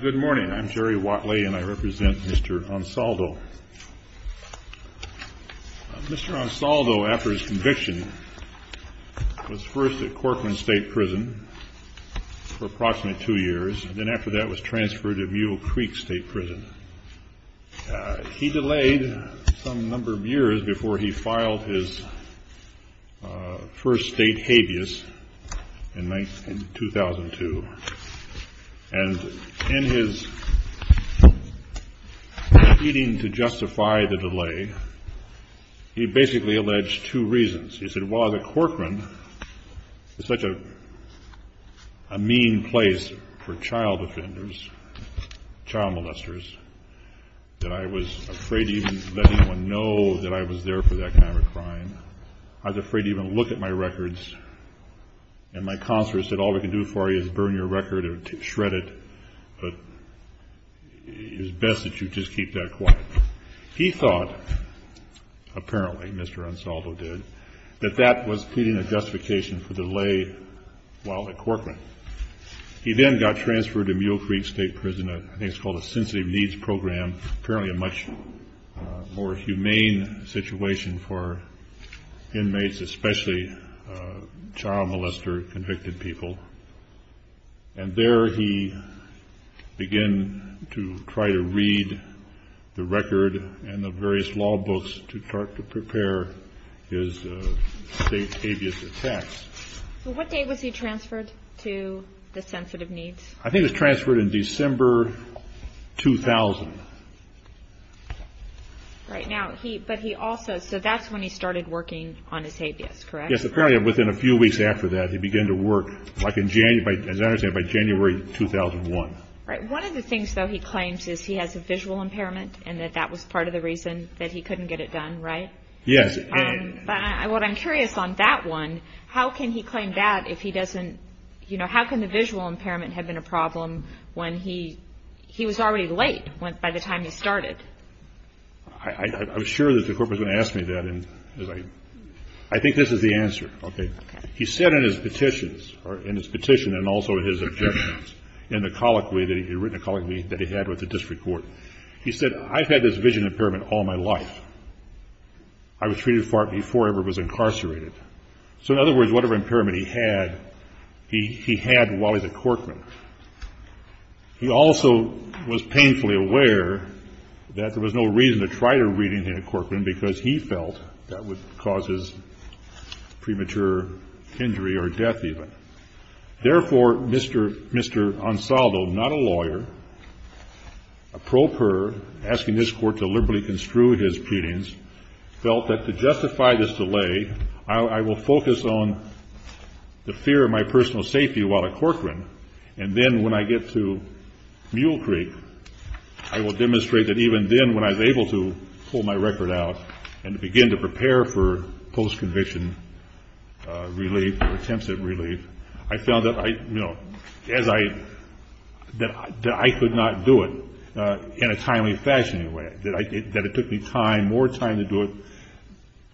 Good morning. I'm Jerry Watley and I represent Mr. Ansaldo. Mr. Ansaldo, after his conviction, was first at Corcoran State Prison for approximately two years and then after that was transferred to Mule Creek State Prison. He delayed some number of years before he filed his first state habeas in 2002. And in his defeating to justify the delay, he basically alleged two reasons. He said, while at Corcoran, it's such a mean place for child offenders, child molesters, that I was afraid to even let anyone know that I was there for that kind of a crime. I was afraid to even look at my records. And my counselor said, all we can do for you is burn your record or shred it, but it's best that you just keep that quiet. He thought, apparently, Mr. Ansaldo did, that that was pleading a justification for delay while at Corcoran. He then got transferred to Mule Creek State Prison, I think it's called a sensitive needs program, apparently a much more humane situation for inmates, especially child molester convicted people. And there he began to try to read the record and the various law books to prepare his state habeas attacks. So what day was he transferred to the sensitive needs? I think he was transferred in December 2000. Right now, but he also, so that's when he started working on his habeas, correct? Yes, apparently within a few weeks after that, he began to work, as I understand, by January 2001. Right. One of the things, though, he claims is he has a visual impairment and that that was part of the reason that he couldn't get it done, right? Yes. But what I'm curious on that one, how can he claim that if he doesn't, you know, how can the visual impairment have been a problem when he, he was already late by the time he started? I'm sure that the court was going to ask me that. I think this is the answer. Okay. He said in his petitions, in his petition and also in his objections, in the colloquy that he had with the district court, he said, I've had this vision impairment all my life. I was treated for it before I ever was incarcerated. So in other words, whatever impairment he had, he had while he was a corkman. He also was painfully aware that there was no reason to try to read anything in a corkman because he felt that would cause his premature injury or death even. Therefore, Mr. Mr. Ansaldo, not a lawyer, a pro per asking this court to liberally construed his petitions, felt that to justify this delay, I will focus on the fear of my personal safety while a corkman. And then when I get to Mule Creek, I will demonstrate that even then when I was able to pull my record out and begin to prepare for post-conviction relief or intensive relief, I found that I, you know, as I, that I could not do it in a timely fashion in a way. That it took me time, more time to do it,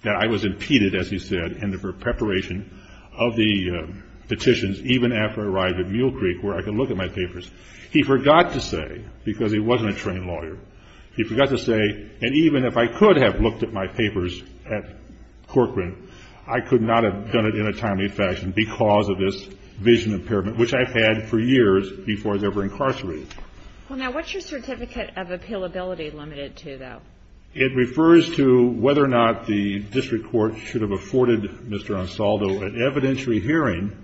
that I was impeded, as he said, in the preparation of the petitions even after I arrived at Mule Creek where I could look at my papers. He forgot to say, because he wasn't a trained lawyer, he forgot to say, and even if I could have looked at my papers at Corcoran, I could not have done it in a timely fashion because of this vision impairment, which I've had for years before I was ever incarcerated. Well, now what's your certificate of appealability limited to, though? It refers to whether or not the district court should have afforded Mr. Ansaldo an evidentiary hearing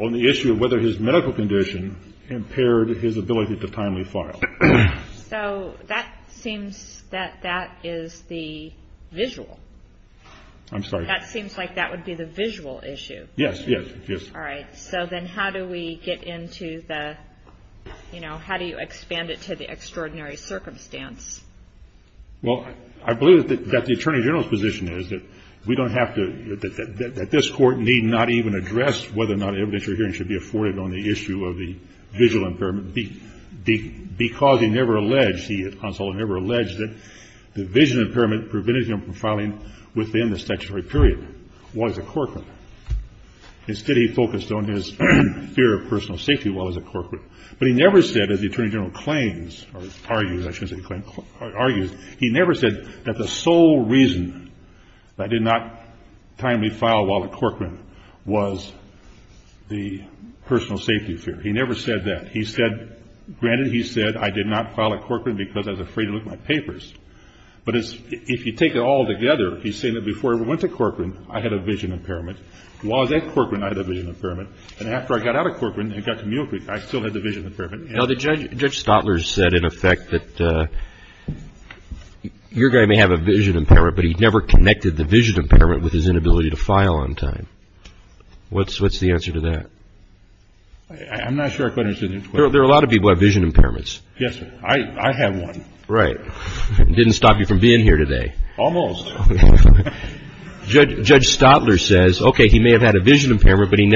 on the issue of whether his medical condition impaired his ability to timely file. So that seems that that is the visual. I'm sorry. That seems like that would be the visual issue. Yes, yes, yes. All right. So then how do we get into the, you know, how do you expand it to the extraordinary circumstance? Well, I believe that the Attorney General's position is that we don't have to, that this court need not even address whether or not an evidentiary hearing should be afforded on the issue of the visual impairment because he never alleged, he, within the statutory period, was at Corcoran. Instead, he focused on his fear of personal safety while he was at Corcoran. But he never said, as the Attorney General claims or argues, I shouldn't say claims, argues, he never said that the sole reason that I did not timely file while at Corcoran was the personal safety fear. He never said that. He said, granted, he said, I did not file at Corcoran because I was afraid to look at my papers. But if you take it all together, he's saying that before I went to Corcoran, I had a vision impairment. While I was at Corcoran, I had a vision impairment. And after I got out of Corcoran and got to Mule Creek, I still had the vision impairment. Now, Judge Stotler said, in effect, that your guy may have a vision impairment, but he never connected the vision impairment with his inability to file on time. What's the answer to that? I'm not sure I quite understand your question. There are a lot of people who have vision impairments. Yes, sir. I have one. Right. It didn't stop you from being here today. Almost. Judge Stotler says, OK, he may have had a vision impairment, but he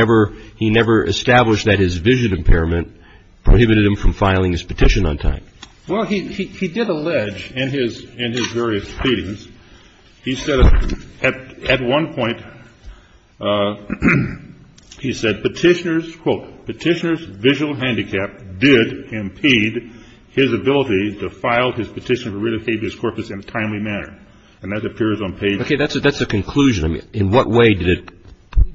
never established that his vision impairment prohibited him from filing his petition on time. Well, he did allege, in his various pleadings, he said at one point, he said, Petitioner's, quote, Petitioner's visual handicap did impede his ability to file his petition to rid of Fabius Corpus in a timely manner. And that appears on page. OK. That's a conclusion. In what way did it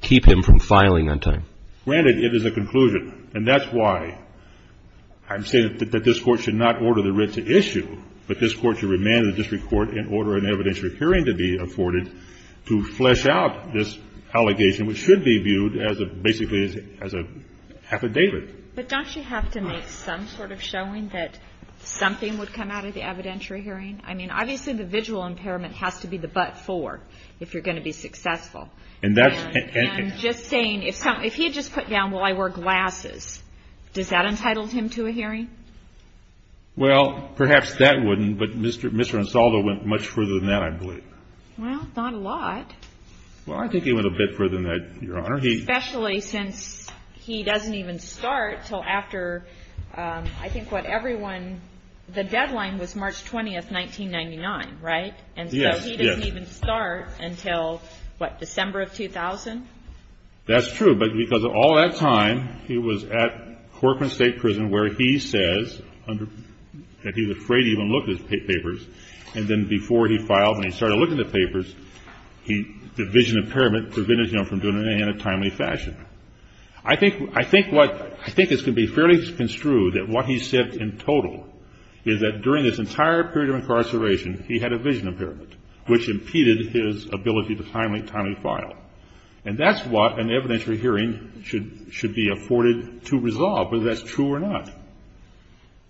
keep him from filing on time? Granted, it is a conclusion, and that's why I'm saying that this Court should not order the writ to issue, but this Court should remand the district court and order an evidentiary hearing to be afforded to flesh out this allegation, which should be viewed basically as an affidavit. But don't you have to make some sort of showing that something would come out of the evidentiary hearing? I mean, obviously, the visual impairment has to be the but-for if you're going to be successful. I'm just saying, if he had just put down, well, I wear glasses, does that entitle him to a hearing? Well, perhaps that wouldn't, but Mr. Ansaldo went much further than that, I believe. Well, not a lot. Well, I think he went a bit further than that, Your Honor. Especially since he doesn't even start until after, I think what everyone, the deadline was March 20th, 1999, right? Yes. So he doesn't even start until, what, December of 2000? That's true. But because of all that time, he was at Corcoran State Prison where he says that he was afraid to even look at his papers, and then before he filed, when he started looking at the papers, the vision impairment prevented him from doing it in a timely fashion. I think what, I think it can be fairly construed that what he said in total is that during this entire period of incarceration, he had a vision impairment, which impeded his ability to timely file. And that's what an evidentiary hearing should be afforded to resolve, whether that's true or not.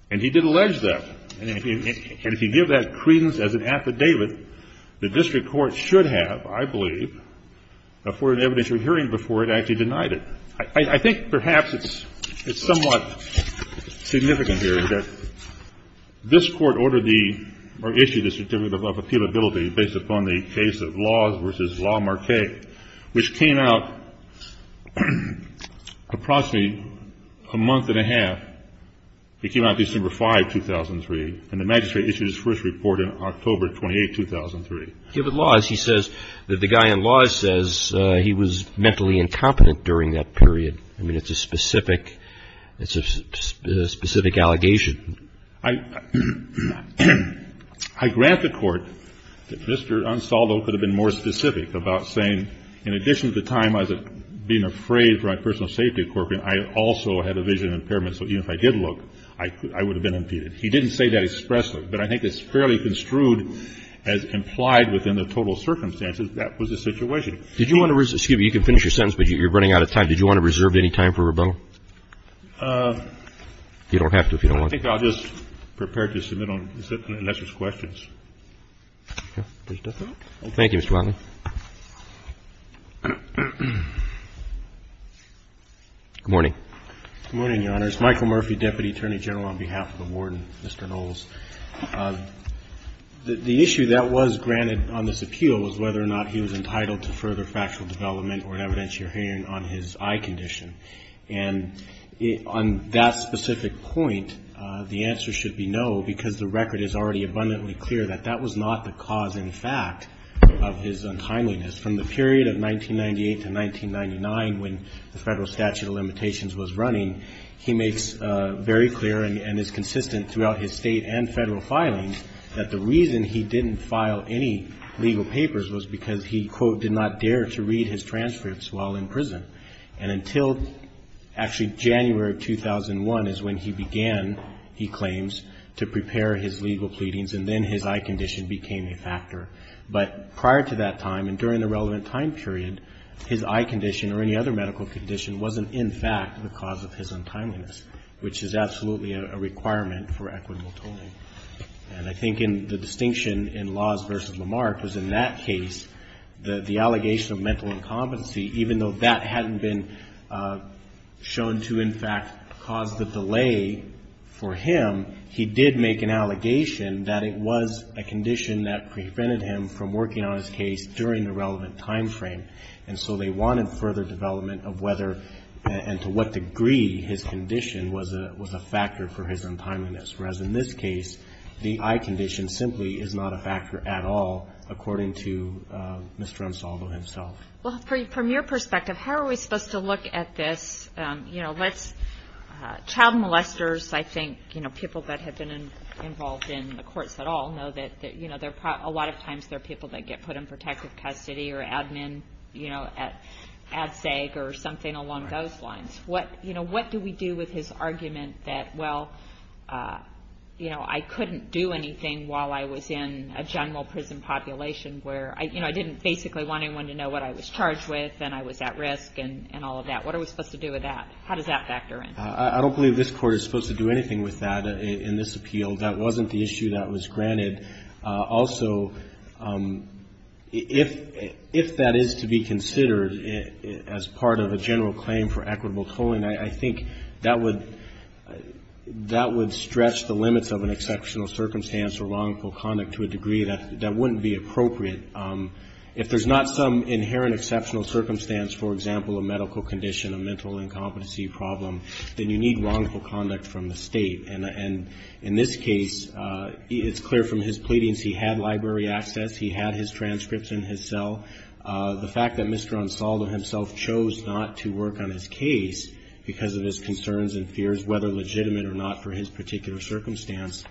And he did allege that. And if you give that credence as an affidavit, the district court should have, I believe, afforded an evidentiary hearing before it actually denied it. I think perhaps it's somewhat significant here that this Court ordered the, or issued a certificate of appealability based upon the case of Laws v. La Marquette, which came out approximately a month and a half. It came out December 5, 2003, and the magistrate issued his first report in October 28, 2003. Give it Laws. He says that the guy in Laws says he was mentally incompetent during that period. I mean, it's a specific, it's a specific allegation. I grant the Court that Mr. Ansaldo could have been more specific about saying, in addition to the time I was being afraid for my personal safety at Corcoran, I also had a vision impairment, so even if I did look, I would have been impeded. He didn't say that expressly, but I think it's fairly construed as implied within the total circumstances that was the situation. Did you want to reserve? Excuse me. You can finish your sentence, but you're running out of time. Did you want to reserve any time for rebuttal? You don't have to if you don't want to. I think I'll just prepare to submit unless there's questions. Okay. If there's nothing else. Thank you, Mr. Watley. Good morning. Good morning, Your Honor. My name is Michael Murphy, Deputy Attorney General on behalf of the Warden, Mr. Knowles. The issue that was granted on this appeal was whether or not he was entitled to further factual development or an evidentiary hearing on his eye condition. And on that specific point, the answer should be no because the record is already abundantly clear that that was not the cause in fact of his untimeliness. From the period of 1998 to 1999 when the Federal statute of limitations was running, he makes very clear and is consistent throughout his State and Federal filings that the reason he didn't file any legal papers was because he, quote, did not dare to read his transcripts while in prison. And until actually January of 2001 is when he began, he claims, to prepare his legal pleadings and then his eye condition became a factor. But prior to that time and during the relevant time period, his eye condition or any other medical condition wasn't in fact the cause of his untimeliness, which is absolutely a requirement for equitable tolling. And I think the distinction in Laws v. Lamarck was in that case the allegation of mental incompetency, even though that hadn't been shown to in fact cause the delay for him, he did make an allegation that it was a condition that prevented him from working on his case during the relevant time frame. And so they wanted further development of whether and to what degree his condition was a factor for his untimeliness. Whereas in this case, the eye condition simply is not a factor at all, according to Mr. Ansolvo himself. Well, from your perspective, how are we supposed to look at this? You know, let's child molesters, I think, you know, people that have been involved in the courts at all know that, you know, a lot of times they're people that get put in protective custody or admin, you know, at SAG or something along those lines. You know, what do we do with his argument that, well, you know, I couldn't do anything while I was in a general prison population where, you know, I didn't basically want anyone to know what I was charged with and I was at risk and all of that. What are we supposed to do with that? How does that factor in? I don't believe this Court is supposed to do anything with that in this appeal. That wasn't the issue that was granted. Also, if that is to be considered as part of a general claim for equitable tolling, I think that would stretch the limits of an exceptional circumstance or wrongful conduct to a degree that wouldn't be appropriate. If there's not some inherent exceptional circumstance, for example, a medical condition, a mental incompetency problem, then you need wrongful conduct from the State. And in this case, it's clear from his pleadings he had library access. He had his transcripts in his cell. The fact that Mr. Ansaldo himself chose not to work on his case because of his concerns and fears whether legitimate or not for his particular circumstance,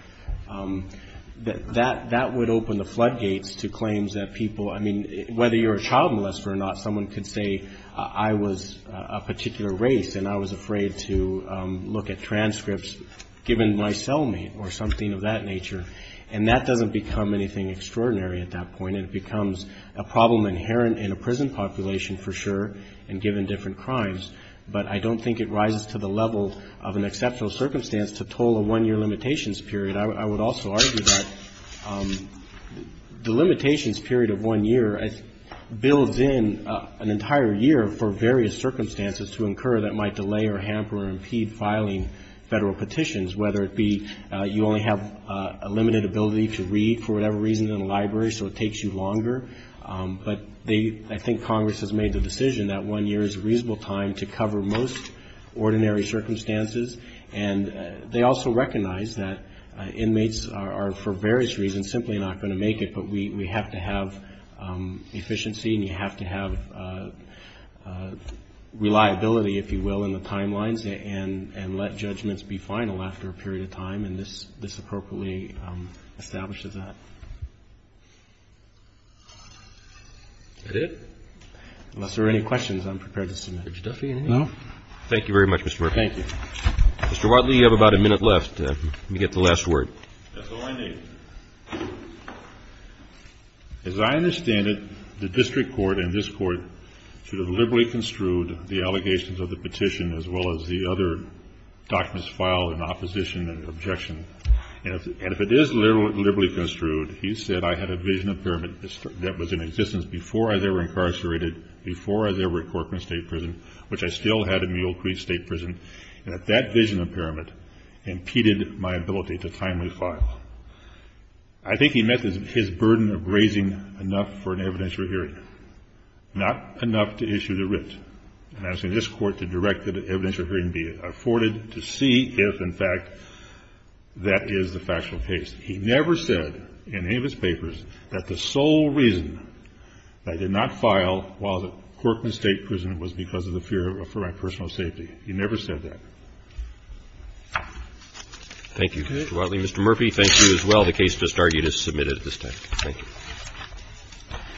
that would open the floodgates to claims that people, I mean, whether you're a child molester or not, someone could say I was a particular race and I was afraid to look at transcripts given my cellmate or something of that nature. And that doesn't become anything extraordinary at that point. It becomes a problem inherent in a prison population, for sure, and given different crimes. But I don't think it rises to the level of an exceptional circumstance to toll a one-year limitations period. I would also argue that the limitations period of one year builds in an entire year for various circumstances to incur that might delay or hamper or impede filing federal petitions, whether it be you only have a limited ability to read for whatever reason in a library, so it takes you longer. But I think Congress has made the decision that one year is a reasonable time to cover most ordinary circumstances. And they also recognize that inmates are, for various reasons, simply not going to make it, but we have to have efficiency and you have to have reliability, if you will, in the timelines and let judgments be final after a period of time. And this appropriately establishes that. Unless there are any questions, I'm prepared to submit. Roberts. Thank you very much, Mr. Murphy. Thank you. Mr. Wadley, you have about a minute left. Let me get the last word. That's all I need. As I understand it, the district court and this court should have liberally construed the allegations of the petition as well as the other documents filed in opposition and objection. And if it is liberally construed, he said I had a vision impairment that was in existence before I was incarcerated, before I was ever in Corcoran State Prison, which I still had in Mule Creek State Prison, and that that vision impairment impeded my ability to timely file. I think he meant his burden of raising enough for an evidentiary hearing, not enough to issue the writ, and asking this Court to direct the evidentiary hearing be afforded to see if, in fact, that is the factual case. He never said in any of his papers that the sole reason I did not file while at Corcoran State Prison was because of the fear for my personal safety. He never said that. Thank you, Mr. Wadley. Mr. Murphy, thank you as well. The case has started. It is submitted at this time. Thank you.